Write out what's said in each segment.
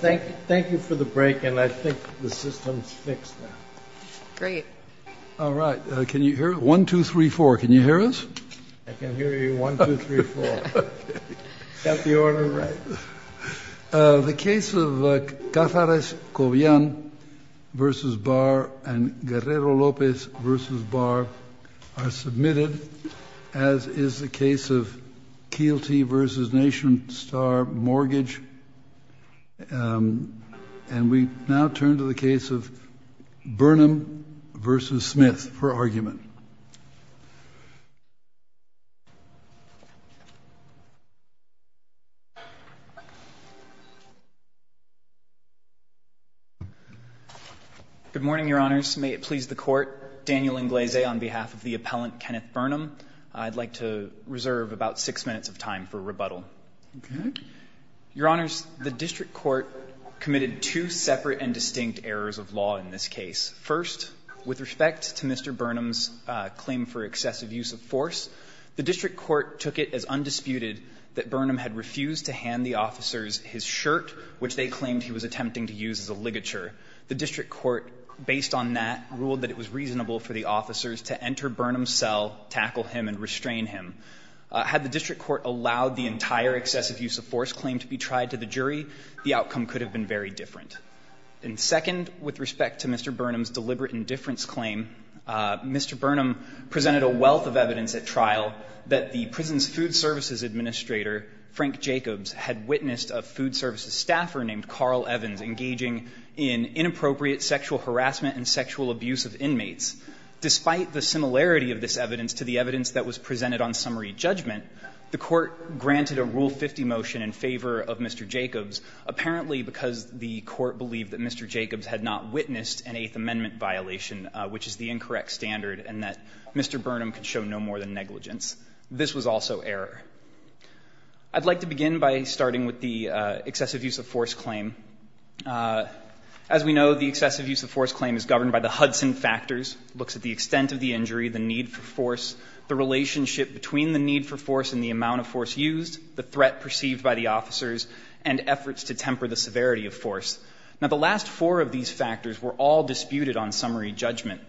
Thank you for the break, and I think the system's fixed now. Great. All right. Can you hear us? One, two, three, four. Can you hear us? I can hear you. One, two, three, four. Is that the order right? The case of Cázares-Cobian v. Barr and Guerrero-López v. Barr are submitted, as is the case of Kielty v. Nation Star Mortgage. And we now turn to the case of Burnham v. Smith for argument. Good morning, Your Honors. May it please the Court, Daniel Inglés on behalf of the appellant Kenneth Burnham. I'd like to reserve about 6 minutes of time for rebuttal. Your Honors, the district court committed two separate and distinct errors of law in this case. First, with respect to Mr. Burnham's claim for excessive use of force, the district court took it as undisputed that Burnham had refused to hand the officers his shirt, which they claimed he was attempting to use as a ligature. The district court, based on that, ruled that it was reasonable for the officers to enter Burnham's cell, tackle him, and restrain him. Had the district court allowed the entire excessive use of force claim to be tried to the jury, the outcome could have been very different. And second, with respect to Mr. Burnham's deliberate indifference claim, Mr. Burnham presented a wealth of evidence at trial that the prison's food services administrator, Frank Jacobs, had witnessed a food services staffer named Carl Evans engaging in inappropriate sexual harassment and sexual abuse of inmates. Despite the similarity of this evidence to the evidence that was presented on summary judgment, the Court granted a Rule 50 motion in favor of Mr. Jacobs, apparently because the Court believed that Mr. Jacobs had not witnessed an Eighth Amendment violation, which is the incorrect standard, and that Mr. Burnham could show no more than negligence. This was also error. I'd like to begin by starting with the excessive use of force claim. As we know, the excessive use of force claim is governed by the Hudson factors. It looks at the extent of the injury, the need for force, the relationship between the need for force and the amount of force used, the threat perceived by the officers, and efforts to temper the severity of force. Now, the last four of these factors were all disputed on summary judgment.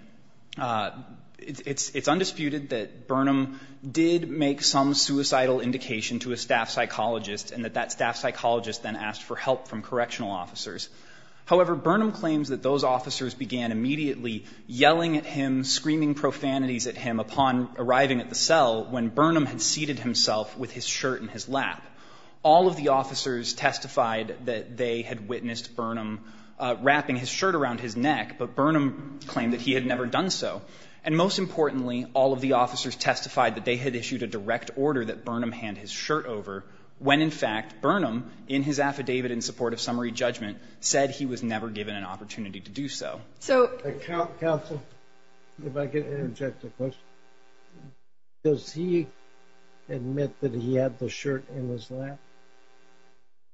It's undisputed that Burnham did make some suicidal indication to a staff psychologist and that that staff psychologist then asked for help from correctional officers. However, Burnham claims that those officers began immediately yelling at him, screaming profanities at him upon arriving at the cell when Burnham had seated himself with his shirt in his lap. All of the officers testified that they had witnessed Burnham wrapping his shirt around his neck, but Burnham claimed that he had never done so. And most importantly, all of the officers testified that they had issued a direct order that Burnham hand his shirt over when, in fact, Burnham, in his affidavit in support of summary judgment, said he was never given an opportunity to do so. Counsel, if I could interject a question. Does he admit that he had the shirt in his lap?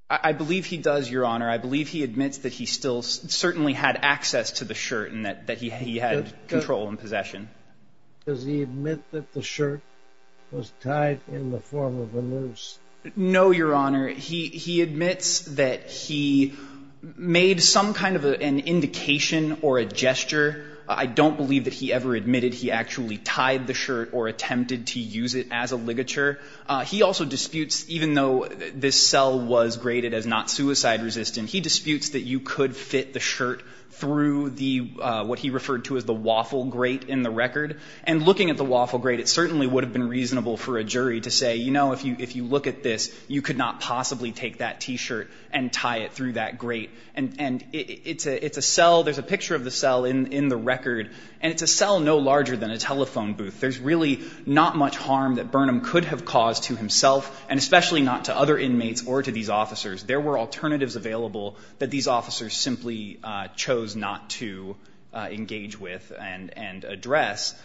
I believe he does, Your Honor. I believe he admits that he still certainly had access to the shirt and that he had control and possession. Does he admit that the shirt was tied in the form of a noose? No, Your Honor. He admits that he made some kind of an indication or a gesture. I don't believe that he ever admitted he actually tied the shirt or attempted to use it as a ligature. He also disputes, even though this cell was graded as not suicide resistant, he disputes that you could fit the shirt through what he referred to as the waffle grate in the record. And looking at the waffle grate, it certainly would have been reasonable for a jury to say, you know, if you look at this, you could not possibly take that T-shirt and tie it through that grate. And it's a cell. There's a picture of the cell in the record. And it's a cell no larger than a telephone booth. There's really not much harm that Burnham could have caused to himself and especially not to other inmates or to these officers. There were alternatives available that these officers simply chose not to engage with and address.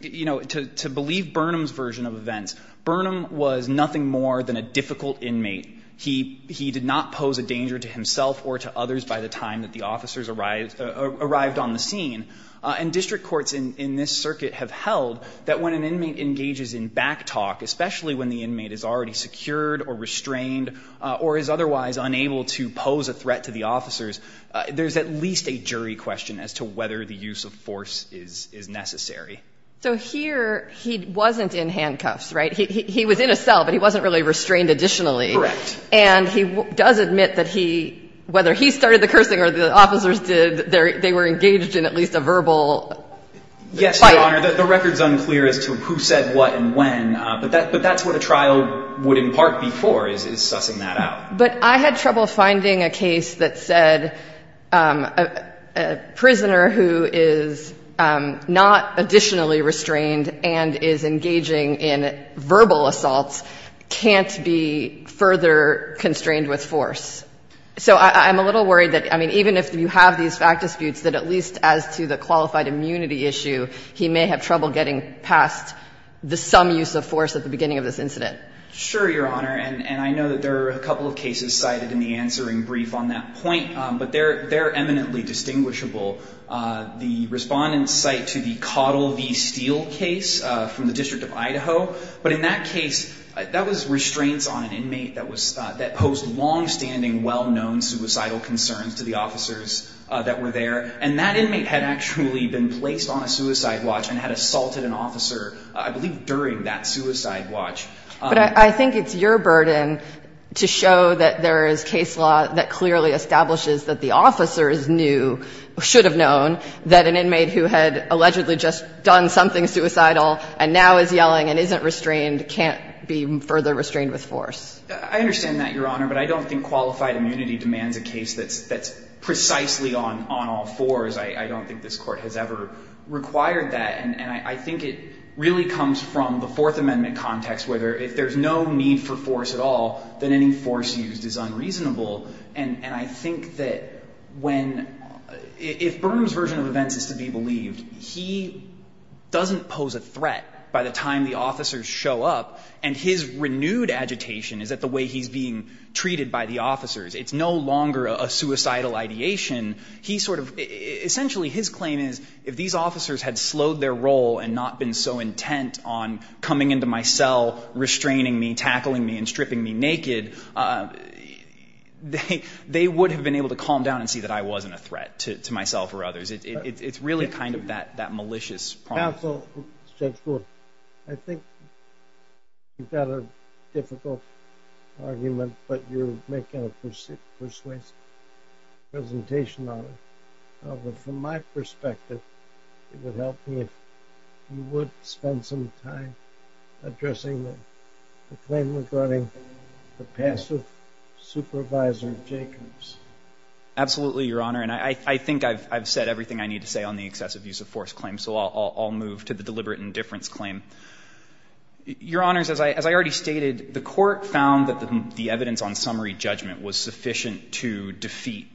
You know, to believe Burnham's version of events, Burnham was nothing more than a difficult inmate. He did not pose a danger to himself or to others by the time that the officers arrived on the scene. And district courts in this circuit have held that when an inmate engages in back talk, especially when the inmate is already secured or restrained or is otherwise unable to pose a threat to the officers, there's at least a jury question as to whether the use of force is necessary. So here he wasn't in handcuffs, right? He was in a cell, but he wasn't really restrained additionally. Correct. And he does admit that he, whether he started the cursing or the officers did, they were engaged in at least a verbal fight. Yes, Your Honor. The record's unclear as to who said what and when. But that's what a trial would impart before is sussing that out. But I had trouble finding a case that said a prisoner who is not additionally restrained and is engaging in verbal assaults can't be further constrained with force. So I'm a little worried that, I mean, even if you have these fact disputes, that at least as to the qualified immunity issue, he may have trouble getting past the some use of force at the beginning of this incident. Sure, Your Honor. And I know that there are a couple of cases cited in the answering brief on that point. But they're eminently distinguishable. The respondents cite to the Cottle v. Steel case from the District of Idaho. But in that case, that was restraints on an inmate that posed longstanding, well-known suicidal concerns to the officers that were there. And that inmate had actually been placed on a suicide watch and had assaulted an officer, I believe during that suicide watch. But I think it's your burden to show that there is case law that clearly establishes that the officers knew, should have known, that an inmate who had allegedly just done something suicidal and now is yelling and isn't restrained can't be further restrained with force. I understand that, Your Honor. But I don't think qualified immunity demands a case that's precisely on all fours. I don't think this Court has ever required that. And I think it really comes from the Fourth Amendment context, where if there's no need for force at all, then any force used is unreasonable. And I think that when — if Burnham's version of events is to be believed, he doesn't pose a threat by the time the officers show up, and his renewed agitation is that the way he's being treated by the officers, it's no longer a suicidal ideation. He sort of — essentially, his claim is, if these officers had slowed their role and not been so intent on coming into my cell, restraining me, tackling me, and stripping me naked, they would have been able to calm down and see that I wasn't a threat to myself or others. It's really kind of that malicious — Counsel, Judge Gould, I think you've got a difficult argument, but you're making a persuasive presentation on it. From my perspective, it would help me if you would spend some time addressing the claim regarding the passive supervisor, Jacobs. Absolutely, Your Honor. And I think I've said everything I need to say on the excessive use of force claim, so I'll move to the deliberate indifference claim. Your Honors, as I already stated, the Court found that the evidence on summary judgment was sufficient to defeat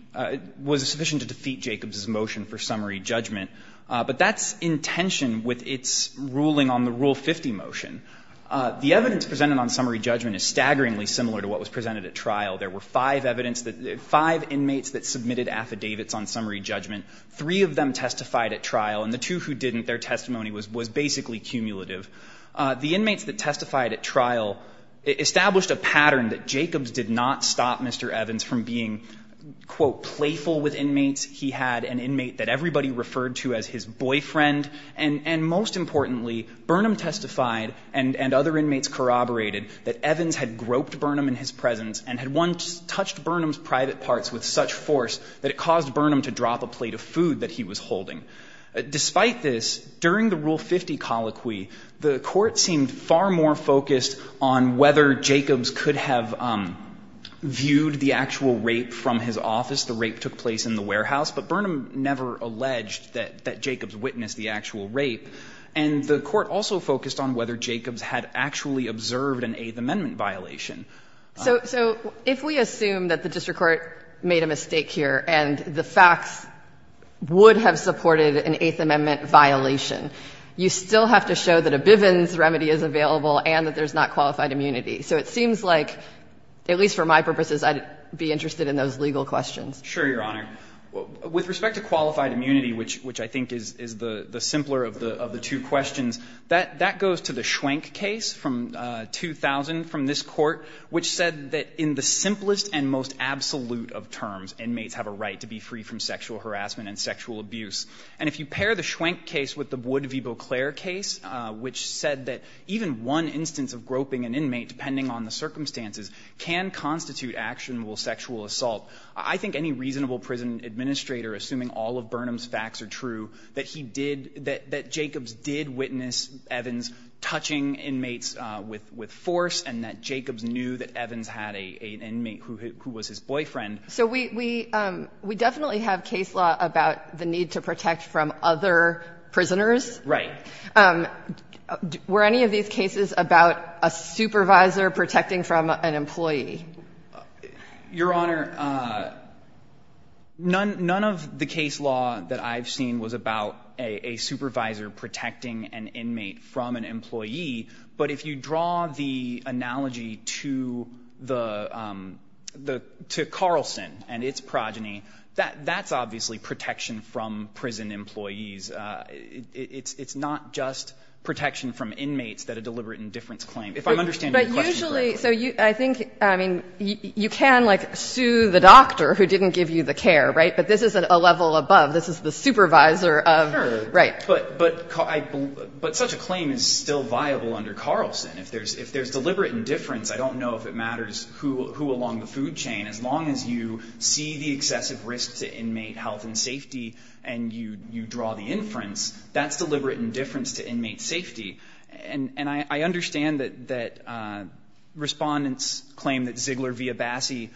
— was sufficient to defeat Jacobs's motion for summary judgment. But that's in tension with its ruling on the Rule 50 motion. The evidence presented on summary judgment is staggeringly similar to what was presented at trial. There were five evidence that — five inmates that submitted affidavits on summary judgment. Three of them testified at trial, and the two who didn't, their testimony was basically cumulative. The inmates that testified at trial established a pattern that Jacobs did not stop Mr. Evans from being, quote, playful with inmates. He had an inmate that everybody referred to as his boyfriend. And most importantly, Burnham testified and other inmates corroborated that Evans had groped Burnham in his presence and had once touched Burnham's private parts with such force that it caused Burnham to drop a plate of food that he was holding. Despite this, during the Rule 50 colloquy, the Court seemed far more focused on whether Jacobs could have viewed the actual rape from his office. The rape took place in the warehouse, but Burnham never alleged that — that Jacobs witnessed the actual rape. And the Court also focused on whether Jacobs had actually observed an Eighth Amendment violation. So if we assume that the district court made a mistake here and the facts would have supported an Eighth Amendment violation, you still have to show that a Bivens remedy is available and that there's not qualified immunity. So it seems like, at least for my purposes, I'd be interested in those legal questions. Sure, Your Honor. With respect to qualified immunity, which I think is the simpler of the two questions, that goes to the Schwenk case from 2000 from this Court, which said that in the simplest and most absolute of terms, inmates have a right to be free from sexual harassment and sexual abuse. And if you pair the Schwenk case with the Wood v. Beauclair case, which said that even one instance of groping an inmate, depending on the circumstances, can constitute actionable sexual assault, I think any reasonable prison administrator, assuming all of Burnham's facts are true, that he did — that Jacobs did witness Evans touching inmates with force and that Jacobs knew that Evans had an inmate who was his boyfriend. So we definitely have case law about the need to protect from other prisoners. Right. Were any of these cases about a supervisor protecting from an employee? Your Honor, none of the case law that I've seen was about a supervisor protecting an inmate from an employee. But if you draw the analogy to the — to Carlson and its progeny, that's obviously protection from prison employees. It's not just protection from inmates that a deliberate indifference claim. If I'm understanding your question correctly. But usually — so I think, I mean, you can, like, sue the doctor who didn't give you the care, right? But this is a level above. This is the supervisor of the — right. But such a claim is still viable under Carlson. If there's deliberate indifference, I don't know if it matters who along the food chain. As long as you see the excessive risk to inmate health and safety and you draw the inference, that's deliberate indifference to inmate safety. And I understand that Respondent's claim that Ziegler v. Abassi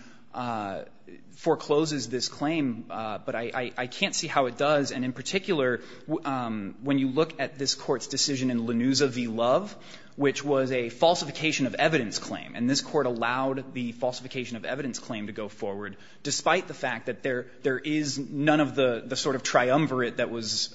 forecloses this claim, but I can't see how it does. And in particular, when you look at this Court's decision in Lanuza v. Love, which was a falsification of evidence claim, and this Court allowed the falsification of evidence claim to go forward, despite the fact that there is none of the sort of triumvirate that was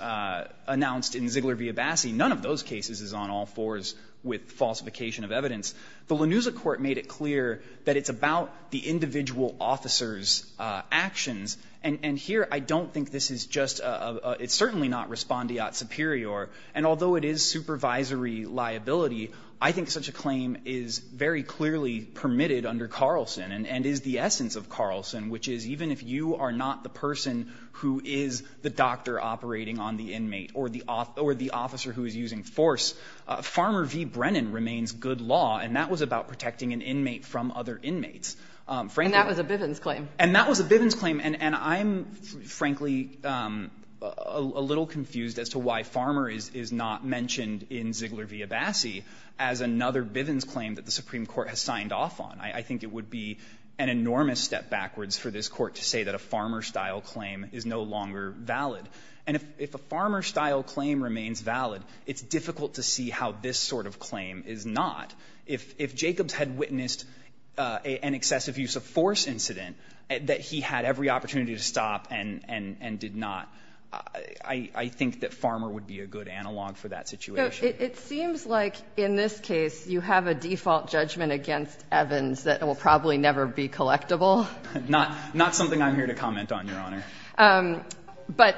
announced in Ziegler v. Abassi, none of those cases is on all fours with falsification of evidence. The Lanuza Court made it clear that it's about the individual officer's actions, and here I don't think this is just a — it's certainly not respondeat superior. And although it is supervisory liability, I think such a claim is very clearly permitted under Carlson and is the essence of Carlson, which is even if you are not the person who is the doctor operating on the inmate or the officer who is using force, Farmer v. Brennan remains good law, and that was about protecting an inmate from other inmates. Frankly — And that was a Bivens claim. And that was a Bivens claim. And I'm, frankly, a little confused as to why Farmer is not mentioned in Ziegler v. Abassi as another Bivens claim that the Supreme Court has signed off on. I think it would be an enormous step backwards for this Court to say that a Farmer-style claim is no longer valid. And if a Farmer-style claim remains valid, it's difficult to see how this sort of claim is not. If Jacobs had witnessed an excessive use of force incident, that he had every opportunity to stop and did not, I think that Farmer would be a good analog for that situation. So it seems like in this case you have a default judgment against Evans that will probably never be collectible. Not something I'm here to comment on, Your Honor. But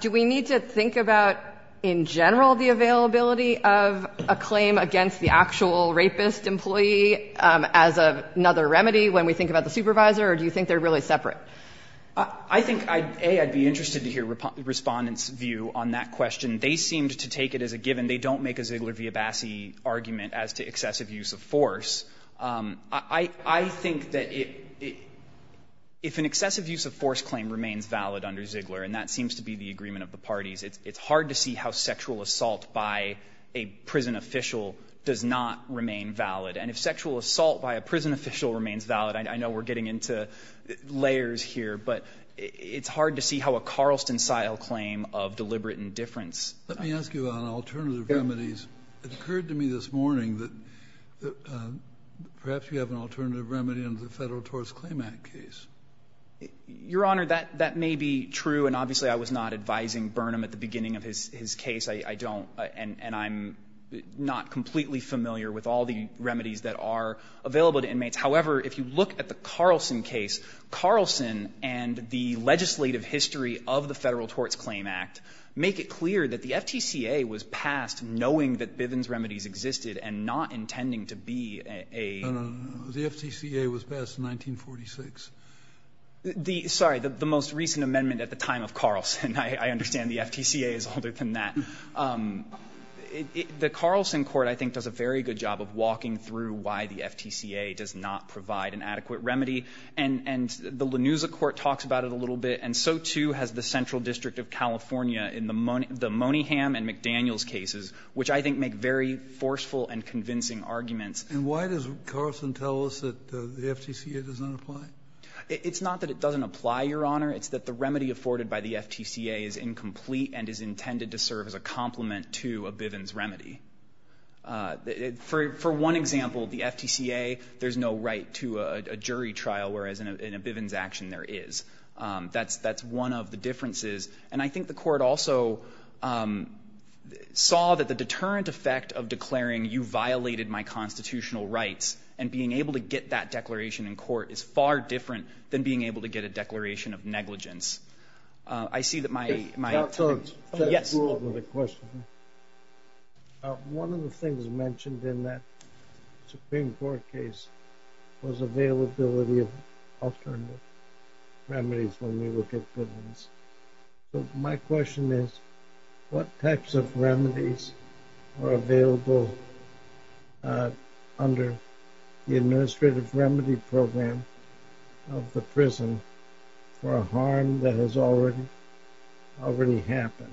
do we need to think about in general the availability of a claim against the actual rapist employee as another remedy when we think about the supervisor, or do you think they're really separate? I think, A, I'd be interested to hear Respondent's view on that question. They seemed to take it as a given. They don't make a Ziegler v. Abassi argument as to excessive use of force. I think that if an excessive use of force claim remains valid under Ziegler, and that seems to be the agreement of the parties, it's hard to see how sexual assault by a prison official does not remain valid. And if sexual assault by a prison official remains valid, I know we're getting into layers here, but it's hard to see how a Carlston-style claim of deliberate indifference. Let me ask you about alternative remedies. It occurred to me this morning that perhaps you have an alternative remedy under the Federal Torts Claim Act case. Your Honor, that may be true. And obviously, I was not advising Burnham at the beginning of his case. I don't. And I'm not completely familiar with all the remedies that are available to inmates. However, if you look at the Carlston case, Carlston and the legislative history of the Federal Torts Claim Act make it clear that the FTCA was passed knowing that Bivens remedies existed and not intending to be a... The FTCA was passed in 1946. Sorry. The most recent amendment at the time of Carlston. I understand the FTCA is older than that. The Carlston court, I think, does a very good job of walking through why the FTCA does not provide an adequate remedy. And the Lanusa court talks about it a little bit. And so, too, has the Central District of California in the Moniham and McDaniels cases, which I think make very forceful and convincing arguments. And why does Carlston tell us that the FTCA does not apply? It's not that it doesn't apply, Your Honor. It's that the remedy afforded by the FTCA is incomplete and is intended to serve as a complement to a Bivens remedy. For one example, the FTCA, there's no right to a jury trial, whereas in a Bivens action there is. That's one of the differences. And I think the court also saw that the deterrent effect of declaring, you violated my constitutional rights, and being able to get that declaration in court is far different than being able to get a declaration of negligence. I see that my................ I have some other questions. One of the things mentioned in that Supreme Court case was availability of determined remedies when we look at Bivens. My question is, what types of remedies are available under the administrative remedy program of the prison for a harm that has already happened?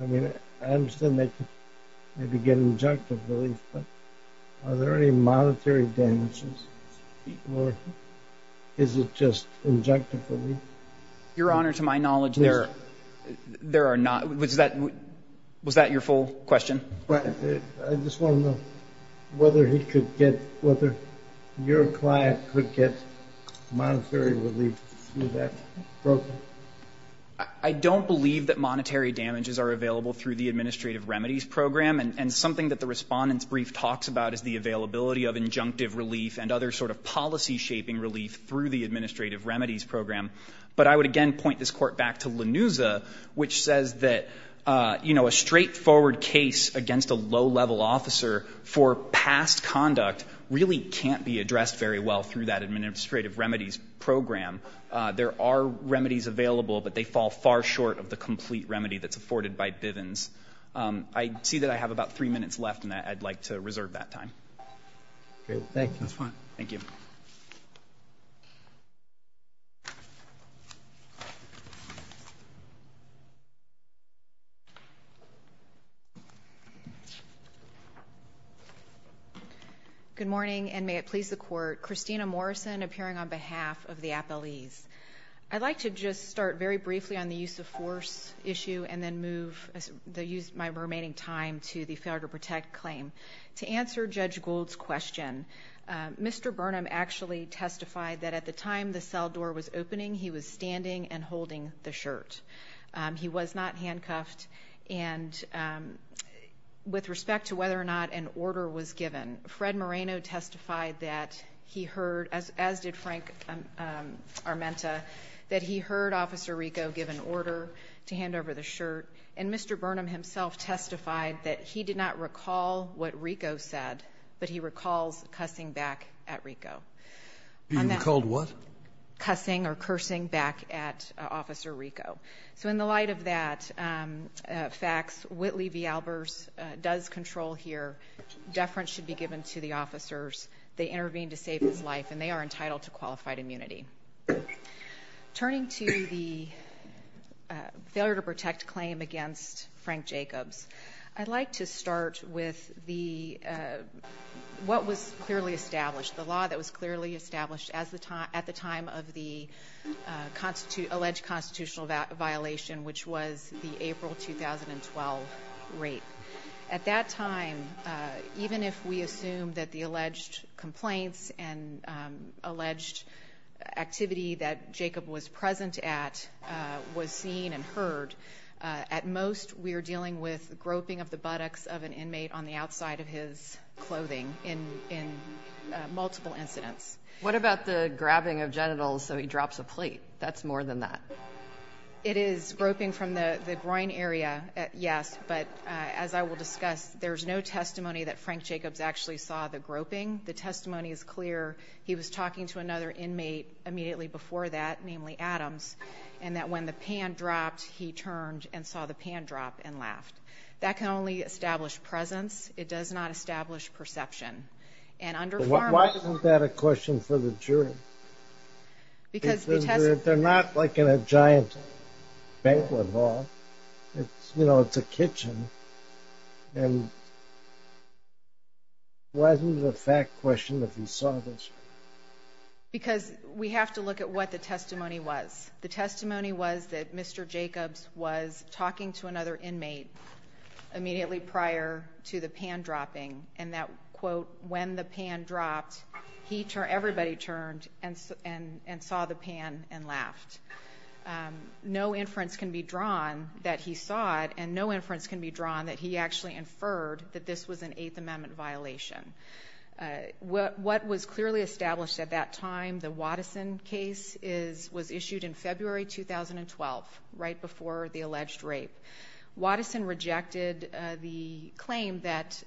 I understand they could maybe get injunctive relief, but are there any monetary damages, or is it just injunctive relief? Your Honor, to my knowledge, there are not. Was that your full question? I just want to know whether he could get, whether your client could get monetary relief through that program. I don't believe that monetary damages are available through the administrative remedies program. And something that the Respondent's brief talks about is the availability of injunctive relief and other sort of policy-shaping relief through the administrative remedies program. But I would again point this Court back to Lanuza, which says that, you know, a straightforward case against a low-level officer for past conduct really can't be addressed very well through that administrative remedies program. There are remedies available, but they fall far short of the complete remedy that's afforded by Bivens. I see that I have about 3 minutes left, and I'd like to reserve that time. Thank you. That's fine. Thank you. Good morning, and may it please the Court. Christina Morrison appearing on behalf of the appellees. I'd like to just start very briefly on the use of force issue and then move, use my remaining time to the failure to protect claim. To answer Judge Gould's question, Mr. Burnham actually testified that at the time the cell door was opening, he was standing and holding the shirt. He was not handcuffed. And with respect to whether or not an order was given, Fred Moreno testified that he heard, as did Frank Armenta, that he heard Officer Rico give an order to hand over the shirt. And Mr. Burnham himself testified that he did not recall what Rico said, but he recalls cussing back at Rico. He recalled what? Cussing or cursing back at Officer Rico. So in the light of that facts, Whitley v. Albers does control here. Deference should be given to the officers. They intervene to save his life, and they are entitled to qualified immunity. Turning to the failure to protect claim against Frank Jacobs, I'd like to start with the, what was clearly established, the law that was clearly established at the time of the alleged constitutional violation, which was the April 2012 rape. At that time, even if we assume that the alleged complaints and alleged activity that Jacob was present at was seen and heard, at most we are dealing with groping of the buttocks of an inmate on the outside of his clothing in multiple incidents. What about the grabbing of genitals so he drops a plate? That's more than that. It is groping from the groin area, yes, but as I will discuss, there's no testimony that Frank Jacobs actually saw the groping. The testimony is clear. He was talking to another inmate immediately before that, namely Adams, and that when the pan dropped, he turned and saw the pan drop and laughed. That can only establish presence. It does not establish perception. Why isn't that a question for the jury? They're not like in a giant banquet hall. You know, it's a kitchen. And why isn't it a fact question that he saw this? Because we have to look at what the testimony was. The testimony was that Mr. Jacobs was talking to another inmate immediately prior to the pan dropped, everybody turned and saw the pan and laughed. No inference can be drawn that he saw it, and no inference can be drawn that he actually inferred that this was an Eighth Amendment violation. What was clearly established at that time, the Watteson case, was issued in February 2012, right before the alleged rape. Watteson rejected the claim that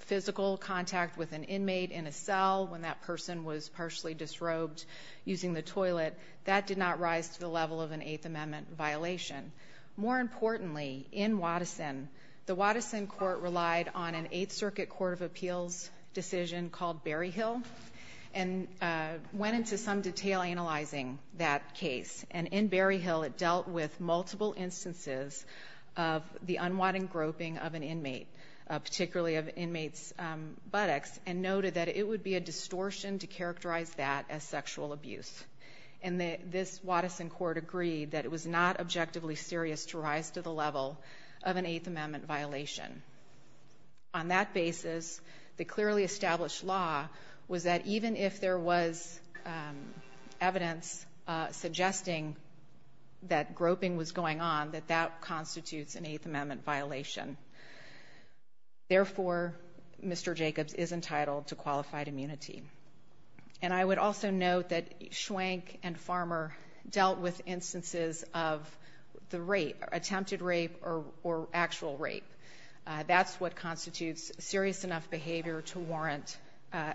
physical contact with an inmate in a cell when that person was partially disrobed using the toilet, that did not rise to the level of an Eighth Amendment violation. More importantly, in Watteson, the Watteson court relied on an Eighth Circuit Court of Appeals decision called Berryhill, and went into some detail analyzing that case. And in Berryhill, it dealt with multiple instances of the unwanted groping of an inmate, particularly of inmates' buttocks, and noted that it would be a distortion to characterize that as sexual abuse. And this Watteson court agreed that it was not objectively serious to rise to the level of an Eighth Amendment violation. On that basis, the clearly established law was that even if there was evidence suggesting that groping was going on, that that constitutes an Eighth Amendment violation. Therefore, Mr. Jacobs is entitled to qualified immunity. And I would also note that Schwenk and Farmer dealt with instances of the rape, attempted rape or actual rape. That's what constitutes serious enough behavior to warrant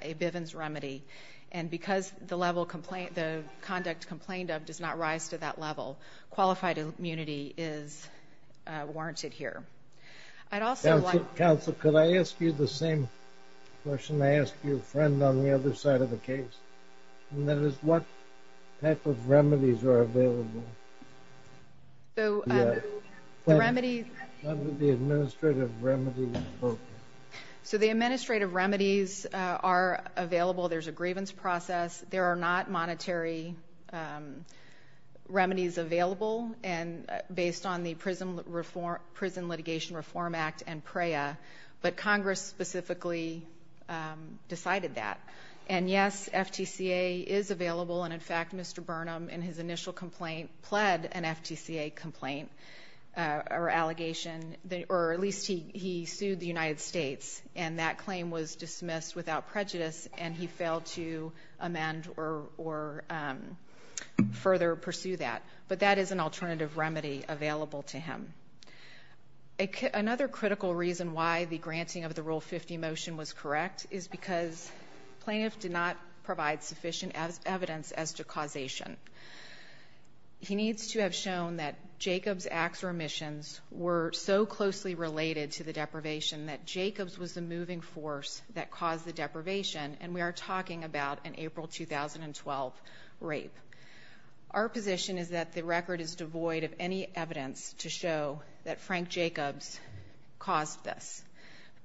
a Bivens remedy. And because the conduct complained of does not rise to that level, qualified immunity is warranted here. I'd also like... Counsel, could I ask you the same question I asked your friend on the other side of the case? And that is, what type of remedies are available? So, the remedies... What would the administrative remedies look like? So, the administrative remedies are available. There's a grievance process. There are not monetary remedies available based on the Prison Litigation Reform Act and PREA. But Congress specifically decided that. And yes, FTCA is available. And in fact, Mr. Burnham, in his initial complaint, pled an FTCA complaint or allegation. Or at least he sued the United States. And that claim was dismissed without prejudice. And he failed to amend or further pursue that. But that is an alternative remedy available to him. Another critical reason why the granting of the Rule 50 motion was correct is because plaintiff did not provide sufficient evidence as to causation. He needs to have shown that Jacobs' acts or omissions were so closely related to the deprivation that Jacobs was the moving force that caused the deprivation. And we are talking about an April 2012 rape. Our position is that the record is devoid of any evidence to show that Frank Jacobs caused this.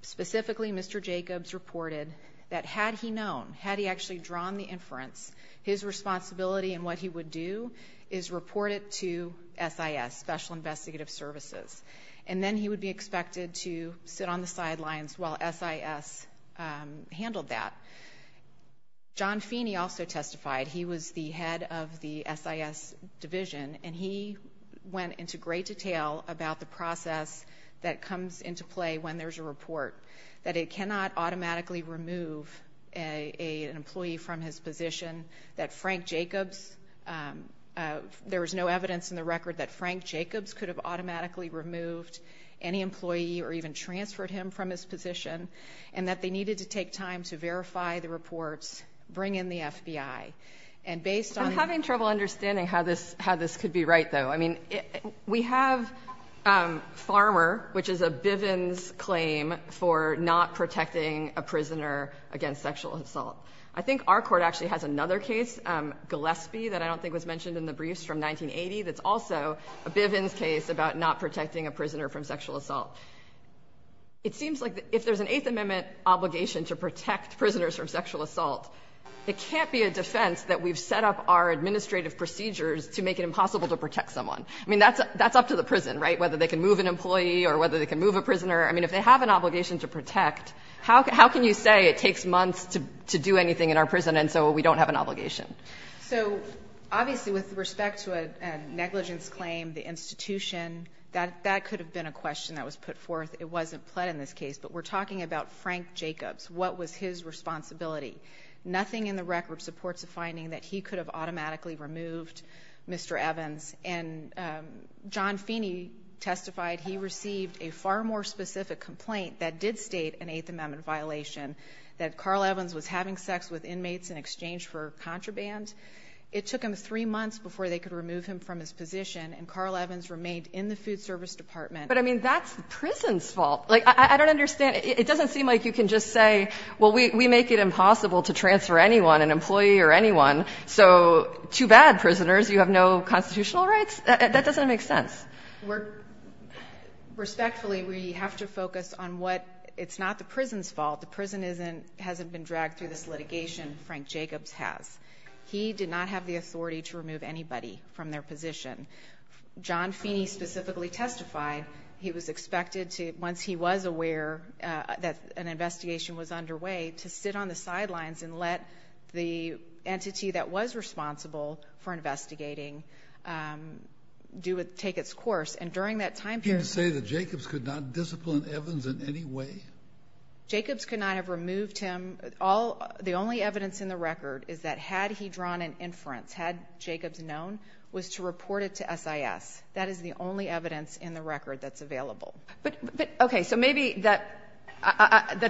Specifically, Mr. Jacobs reported that had he known, had he actually drawn the inference, his responsibility in what he would do is report it to SIS, Special Investigative Services. And then he would be expected to sit on the sidelines while SIS handled that. John Feeney also testified. He was the head of the SIS division. And he went into great detail about the process that comes into play when there's a report. That it cannot automatically remove an employee from his position. That Frank Jacobs, there was no evidence in the record that Frank Jacobs could have automatically removed any employee or even transferred him from his position. And that they needed to take time to verify the reports, bring in the FBI. And based on- I'm having trouble understanding how this could be right, though. I mean, we have Farmer, which is a Bivens claim for not protecting a prisoner against sexual assault. I think our court actually has another case, Gillespie, that I don't think was mentioned in the briefs from 1980, that's also a Bivens case about not protecting a prisoner from sexual assault. It seems like if there's an Eighth Amendment obligation to protect prisoners from sexual assault, it can't be a defense that we've set up our administrative procedures to make it impossible to protect someone. I mean, that's up to the prison, right, whether they can move an employee or whether they can move a prisoner. I mean, if they have an obligation to protect, how can you say it takes months to do anything in our prison and so we don't have an obligation? So, obviously, with respect to a negligence claim, the institution, that could have been a question that was put forth. It wasn't pled in this case, but we're talking about Frank Jacobs. What was his responsibility? Nothing in the record supports a finding that he could have automatically removed Mr. Evans. And John Feeney testified he received a far more specific complaint that did state an Eighth Amendment violation, that Carl Evans was having sex with inmates in exchange for contraband. It took him three months before they could remove him from his position, and Carl Evans remained in the Food Service Department. But, I mean, that's the prison's fault. Like, I don't understand. It doesn't seem like you can just say, well, we make it impossible to transfer anyone, an employee or anyone. So, too bad, prisoners. You have no constitutional rights? That doesn't make sense. Respectfully, we have to focus on what it's not the prison's fault. The prison hasn't been dragged through this litigation. Frank Jacobs has. He did not have the authority to remove anybody from their position. John Feeney specifically testified he was expected to, once he was aware that an investigation was underway, to sit on the sidelines and let the entity that was responsible for investigating take its course. And during that time period ---- You're saying that Jacobs could not discipline Evans in any way? Jacobs could not have removed him. The only evidence in the record is that had he drawn an inference, had Jacobs known, was to report it to SIS. That is the only evidence in the record that's available. But, okay, so maybe that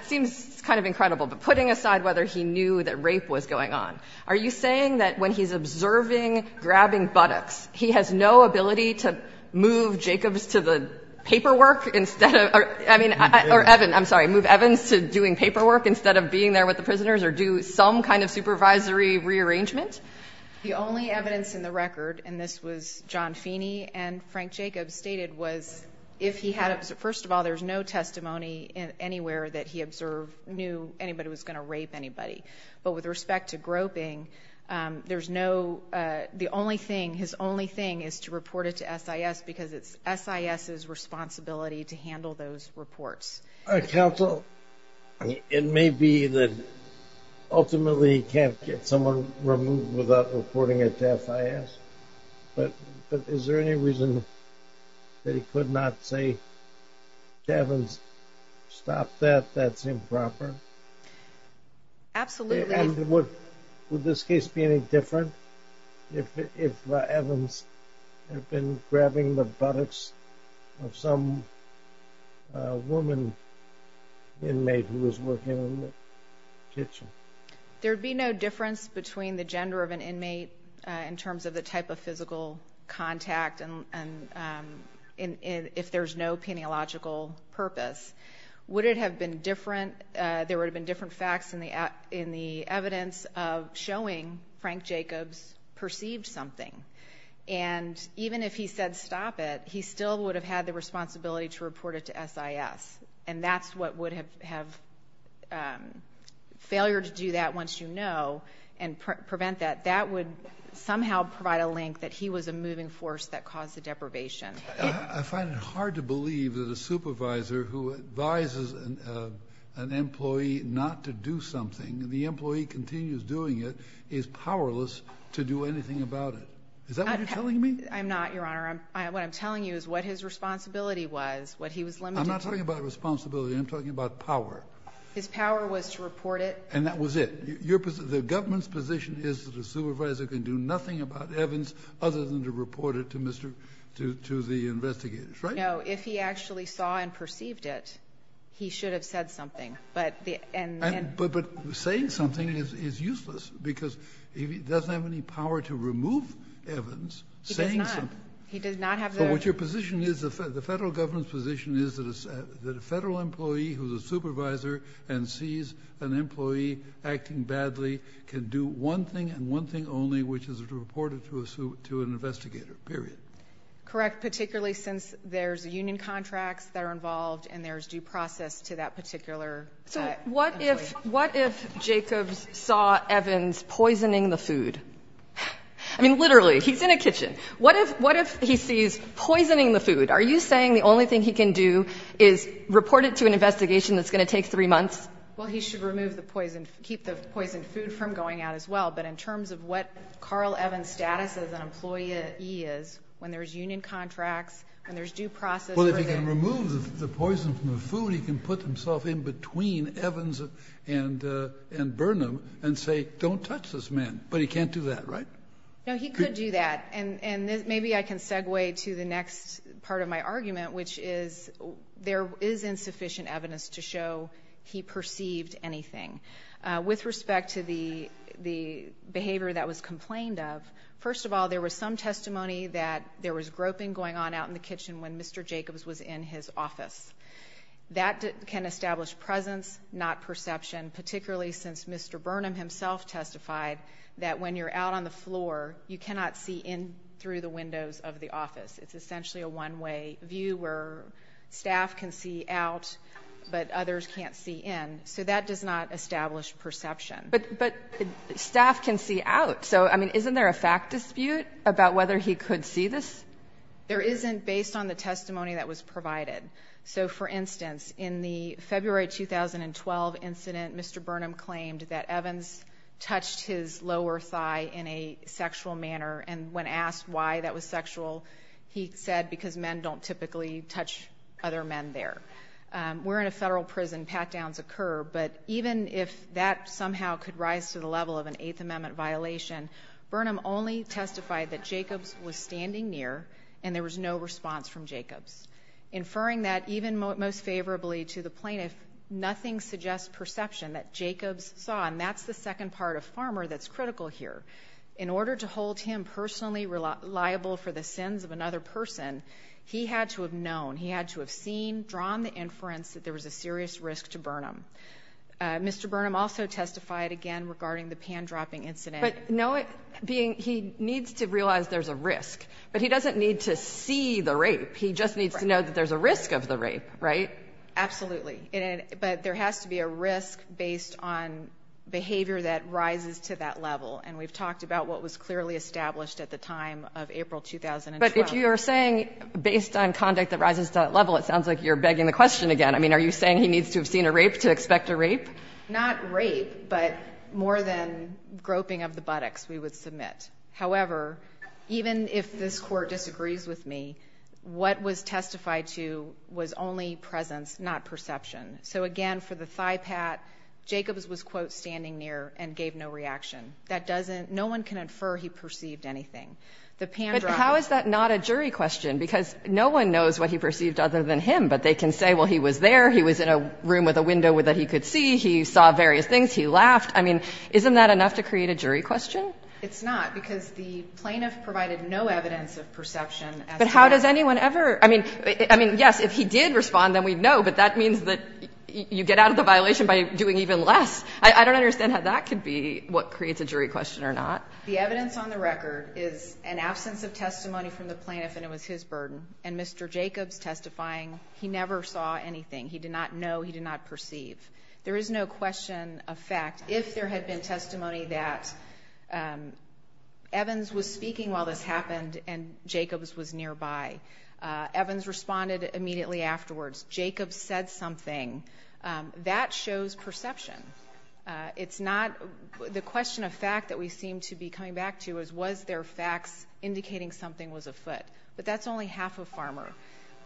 seems kind of incredible. But putting aside whether he knew that rape was going on, are you saying that when he's observing grabbing buttocks, he has no ability to move Jacobs to the paperwork instead of or, I mean, or Evans, I'm sorry, move Evans to doing paperwork instead of being there with the prisoners or do some kind of supervisory rearrangement? The only evidence in the record, and this was John Feeney and Frank Jacobs stated, was if he had, first of all, there's no testimony anywhere that he observed knew anybody was going to rape anybody. But with respect to groping, there's no, the only thing, his only thing is to report it to SIS because it's SIS's responsibility to handle those reports. Counsel, it may be that ultimately he can't get someone removed without reporting it to SIS, but is there any reason that he could not say to Evans, stop that, that's improper? Absolutely. And would this case be any different if Evans had been grabbing the buttocks of some woman inmate who was working in the kitchen? There would be no difference between the gender of an inmate in terms of the type of physical contact and if there's no peniological purpose. Would it have been different, there would have been different facts in the evidence of showing Frank Jacobs perceived something. And even if he said stop it, he still would have had the responsibility to report it to SIS. And that's what would have, failure to do that once you know and prevent that, that would somehow provide a link that he was a moving force that caused the deprivation. I find it hard to believe that a supervisor who advises an employee not to do something, the employee continues doing it, is powerless to do anything about it. Is that what you're telling me? I'm not, Your Honor. What I'm telling you is what his responsibility was, what he was limited to. I'm not talking about responsibility, I'm talking about power. His power was to report it. And that was it. The government's position is that a supervisor can do nothing about Evans other than to report it to the investigators, right? No, if he actually saw and perceived it, he should have said something. But saying something is useless because he doesn't have any power to remove Evans saying something. He does not. He does not have the authority. What your position is, the federal government's position is that a federal employee who's a supervisor and sees an employee acting badly can do one thing and one thing only, which is to report it to an investigator, period. Correct, particularly since there's union contracts that are involved and there's due process to that particular employee. So what if Jacobs saw Evans poisoning the food? I mean, literally, he's in a kitchen. What if he sees poisoning the food? Are you saying the only thing he can do is report it to an investigation that's going to take three months? Well, he should remove the poison, keep the poisoned food from going out as well. But in terms of what Carl Evans' status as an employee is, when there's union contracts and there's due process for that. Well, if he can remove the poison from the food, he can put himself in between Evans and Burnham and say, don't touch this man, but he can't do that, right? No, he could do that, and maybe I can segue to the next part of my argument, which is there is insufficient evidence to show he perceived anything. With respect to the behavior that was complained of, first of all, there was some testimony that there was groping going on out in the kitchen when Mr. Jacobs was in his office. That can establish presence, not perception, particularly since Mr. Burnham himself testified that when you're out on the floor, you cannot see in through the windows of the office. It's essentially a one-way view where staff can see out, but others can't see in. So that does not establish perception. But staff can see out. So, I mean, isn't there a fact dispute about whether he could see this? There isn't based on the testimony that was provided. So, for instance, in the February 2012 incident, Mr. Burnham claimed that Evans touched his lower thigh in a sexual manner, and when asked why that was sexual, he said because men don't typically touch other men there. We're in a federal prison, pat-downs occur, but even if that somehow could rise to the level of an Eighth Amendment violation, Burnham only testified that Jacobs was standing near and there was no response from Jacobs. Inferring that, even most favorably to the plaintiff, nothing suggests perception that Jacobs saw, and that's the second part of Farmer that's critical here. In order to hold him personally reliable for the sins of another person, he had to have known, he had to have seen, drawn the inference that there was a serious risk to Burnham. Mr. Burnham also testified again regarding the pan-dropping incident. But know it being he needs to realize there's a risk, but he doesn't need to see the rape. He just needs to know that there's a risk of the rape, right? Absolutely. But there has to be a risk based on behavior that rises to that level, and we've talked about what was clearly established at the time of April 2012. But if you're saying based on conduct that rises to that level, it sounds like you're begging the question again. I mean, are you saying he needs to have seen a rape to expect a rape? Not rape, but more than groping of the buttocks, we would submit. However, even if this Court disagrees with me, what was testified to was only presence, not perception. So again, for the thigh pat, Jacobs was, quote, standing near and gave no reaction. That doesn't, no one can infer he perceived anything. But how is that not a jury question? Because no one knows what he perceived other than him, but they can say, well, he was there, he was in a room with a window that he could see, he saw various things, he laughed. I mean, isn't that enough to create a jury question? It's not, because the plaintiff provided no evidence of perception. But how does anyone ever? I mean, yes, if he did respond, then we'd know, but that means that you get out of the violation by doing even less. I don't understand how that could be what creates a jury question or not. The evidence on the record is an absence of testimony from the plaintiff, and it was his burden. And Mr. Jacobs testifying, he never saw anything. He did not know. He did not perceive. There is no question of fact. If there had been testimony that Evans was speaking while this happened and Jacobs was nearby, Evans responded immediately afterwards. Jacobs said something. That shows perception. It's not, the question of fact that we seem to be coming back to is, was there facts indicating something was afoot? But that's only half a farmer.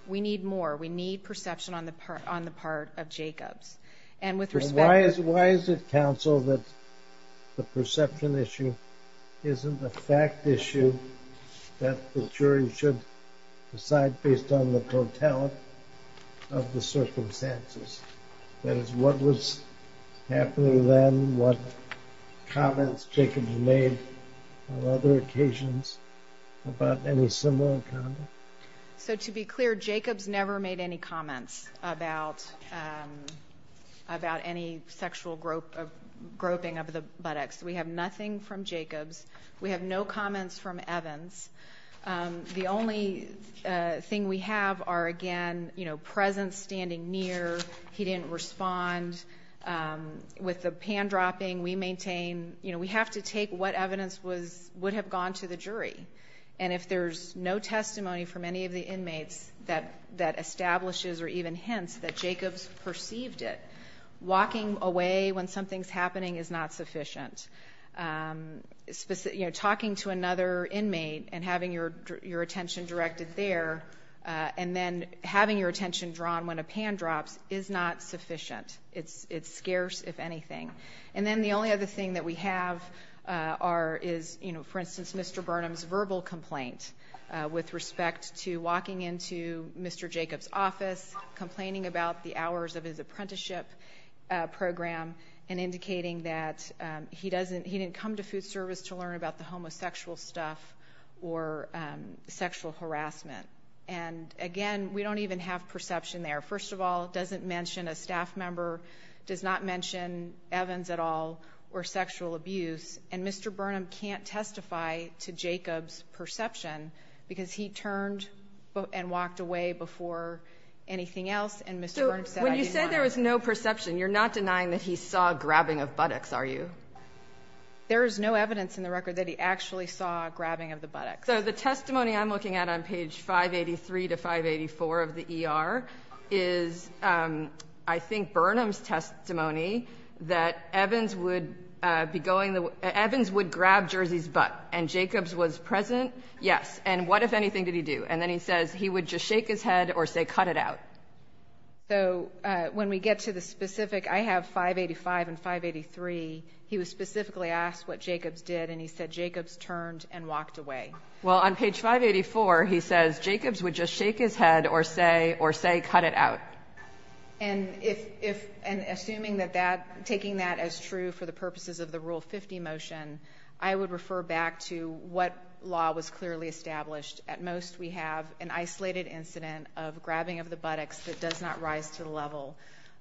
We need more. We need perception on the part of Jacobs. So why is it, counsel, that the perception issue isn't a fact issue that the jury should decide based on the totality of the circumstances? That is, what was happening then, what comments Jacobs made on other occasions about any similar conduct? So to be clear, Jacobs never made any comments about any sexual groping of the buttocks. We have nothing from Jacobs. We have no comments from Evans. The only thing we have are, again, presence, standing near, he didn't respond. With the pan dropping, we maintain, you know, we have to take what evidence would have gone to the jury. And if there's no testimony from any of the inmates that establishes or even hints that Jacobs perceived it, walking away when something's happening is not sufficient. You know, talking to another inmate and having your attention directed there and then having your attention drawn when a pan drops is not sufficient. It's scarce, if anything. And then the only other thing that we have is, you know, for instance, Mr. Burnham's verbal complaint with respect to walking into Mr. Jacobs' office, complaining about the hours of his apprenticeship program and indicating that he didn't come to food service to learn about the homosexual stuff or sexual harassment. And, again, we don't even have perception there. First of all, it doesn't mention a staff member, does not mention Evans at all or sexual abuse. And Mr. Burnham can't testify to Jacobs' perception because he turned and walked away before anything else and Mr. Burnham said, I didn't want to. So when you said there was no perception, you're not denying that he saw a grabbing of buttocks, are you? There is no evidence in the record that he actually saw a grabbing of the buttocks. So the testimony I'm looking at on page 583 to 584 of the ER is, I think, Burnham's testimony that Evans would grab Jersey's butt and Jacobs was present. And what, if anything, did he do? And then he says he would just shake his head or say, cut it out. So when we get to the specific, I have 585 and 583, he was specifically asked what Jacobs did and he said Jacobs turned and walked away. Well, on page 584 he says, Jacobs would just shake his head or say, cut it out. And assuming that that, taking that as true for the purposes of the Rule 50 motion, I would refer back to what law was clearly established. At most we have an isolated incident of grabbing of the buttocks that does not rise to the level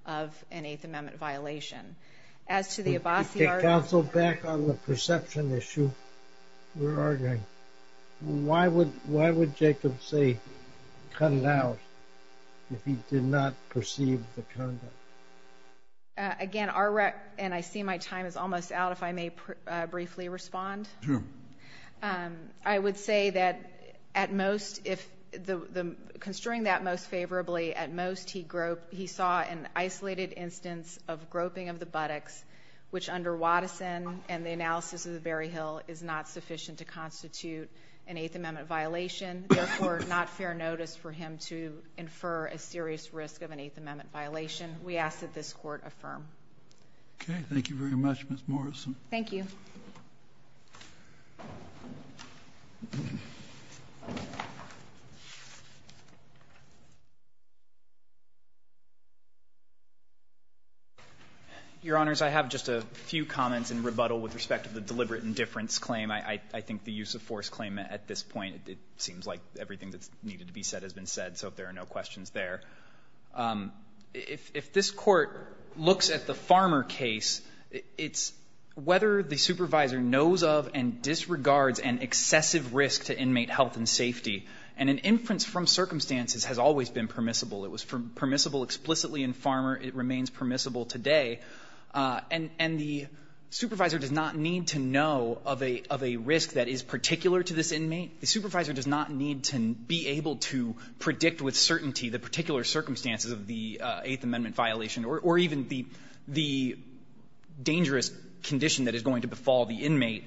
of an Eighth Amendment violation. As to the Abbasi argument... Could you take counsel back on the perception issue we're arguing? Why would Jacob say, cut it out, if he did not perceive the conduct? Again, our, and I see my time is almost out, if I may briefly respond. Sure. I would say that at most, if the, considering that most favorably, at most he saw an isolated instance of groping of the buttocks, which under Watteson and the analysis of the Berryhill is not sufficient to constitute an Eighth Amendment violation. Therefore, not fair notice for him to infer a serious risk of an Eighth Amendment violation. We ask that this Court affirm. Okay. Thank you very much, Ms. Morrison. Thank you. Your Honors, I have just a few comments in rebuttal with respect to the deliberate indifference claim. I think the use of force claim at this point, it seems like everything that's needed to be said has been said, so if there are no questions there. If this Court looks at the Farmer case, it's whether the supervisor knows of and disregards an excessive risk to inmate health and safety. And an inference from circumstances has always been permissible, it was permissible explicitly in Farmer, it remains permissible today. And the supervisor does not need to know of a risk that is particular to this inmate. The supervisor does not need to be able to predict with certainty the particular circumstances of the Eighth Amendment violation or even the dangerous condition that is going to befall the inmate.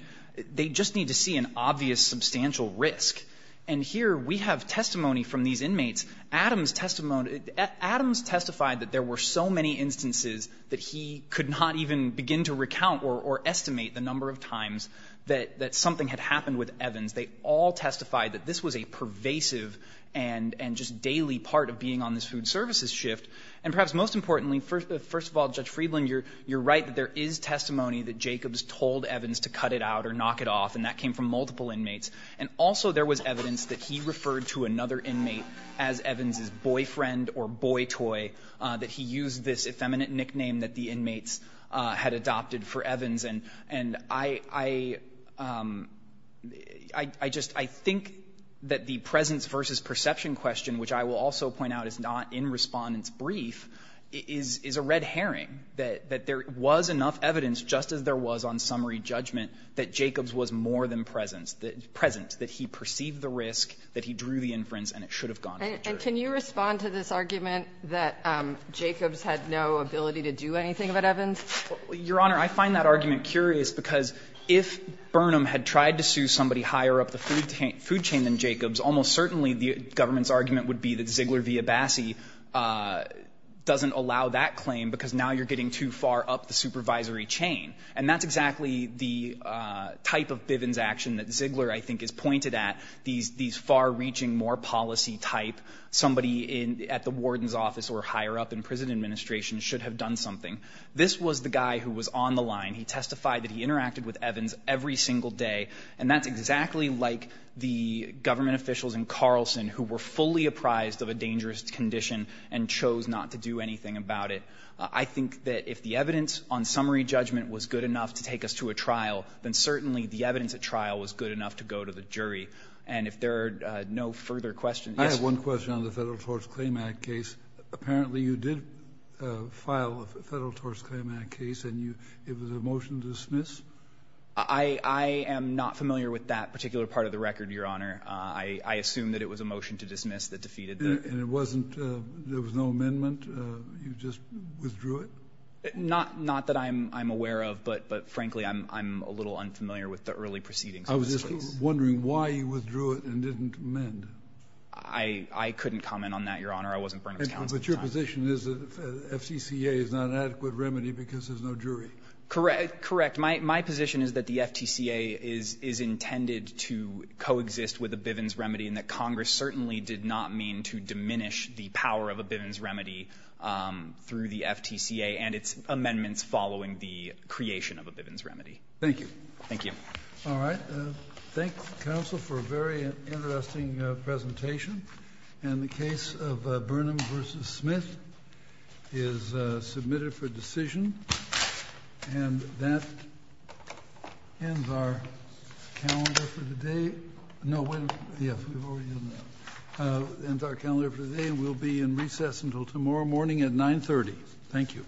They just need to see an obvious substantial risk. And here we have testimony from these inmates, Adams testified that there were so many instances that he could not even begin to recount or estimate the number of times that something had happened with Evans. They all testified that this was a pervasive and just daily part of being on this food services shift. And perhaps most importantly, first of all, Judge Friedland, you're right that there is testimony that Jacobs told Evans to cut it out or knock it off, and that came from multiple inmates. And also there was evidence that he referred to another inmate as Evans' boyfriend or boy toy, that he used this effeminate nickname that the inmates had adopted for Evans. And I just think that the presence versus perception question, which I will also point out is not in Respondent's brief, is a red herring, that there was enough evidence, just as there was on summary judgment, that Jacobs was more than present, that he perceived the risk, that he drew the inference, and it should have gone to the jury. And can you respond to this argument that Jacobs had no ability to do anything about Evans? Your Honor, I find that argument curious because if Burnham had tried to sue somebody higher up the food chain than Jacobs, almost certainly the government's argument would be that Ziegler v. Abbasi doesn't allow that claim because now you're getting too far up the supervisory chain. And that's exactly the type of Bivens action that Ziegler, I think, is pointed at, these far-reaching, more policy type, somebody at the warden's office or higher up in prison administration should have done something. This was the guy who was on the line. He testified that he interacted with Evans every single day, and that's exactly like the government officials in Carlson who were fully apprised of a dangerous condition and chose not to do anything about it. I think that if the evidence on summary judgment was good enough to take us to a trial, then certainly the evidence at trial was good enough to go to the jury. And if there are no further questions, yes. I have one question on the Federal Torts Claim Act case. Apparently you did file a Federal Torts Claim Act case, and it was a motion to dismiss? I am not familiar with that particular part of the record, Your Honor. And it wasn't — there was no amendment? You just withdrew it? Not that I'm aware of, but, frankly, I'm a little unfamiliar with the early proceedings of this case. I was just wondering why you withdrew it and didn't amend it. I couldn't comment on that, Your Honor. I wasn't Burnham's counsel at the time. But your position is that the FTCA is not an adequate remedy because there's no jury? Correct. My position is that the FTCA is intended to coexist with a Bivens remedy and that it's intended to diminish the power of a Bivens remedy through the FTCA and its amendments following the creation of a Bivens remedy. Thank you. Thank you. All right. Thank you, counsel, for a very interesting presentation. And the case of Burnham v. Smith is submitted for decision. And that ends our calendar for today. No, wait a minute. Yes, we've already done that. And our calendar for today will be in recess until tomorrow morning at 9.30. Thank you. All rise.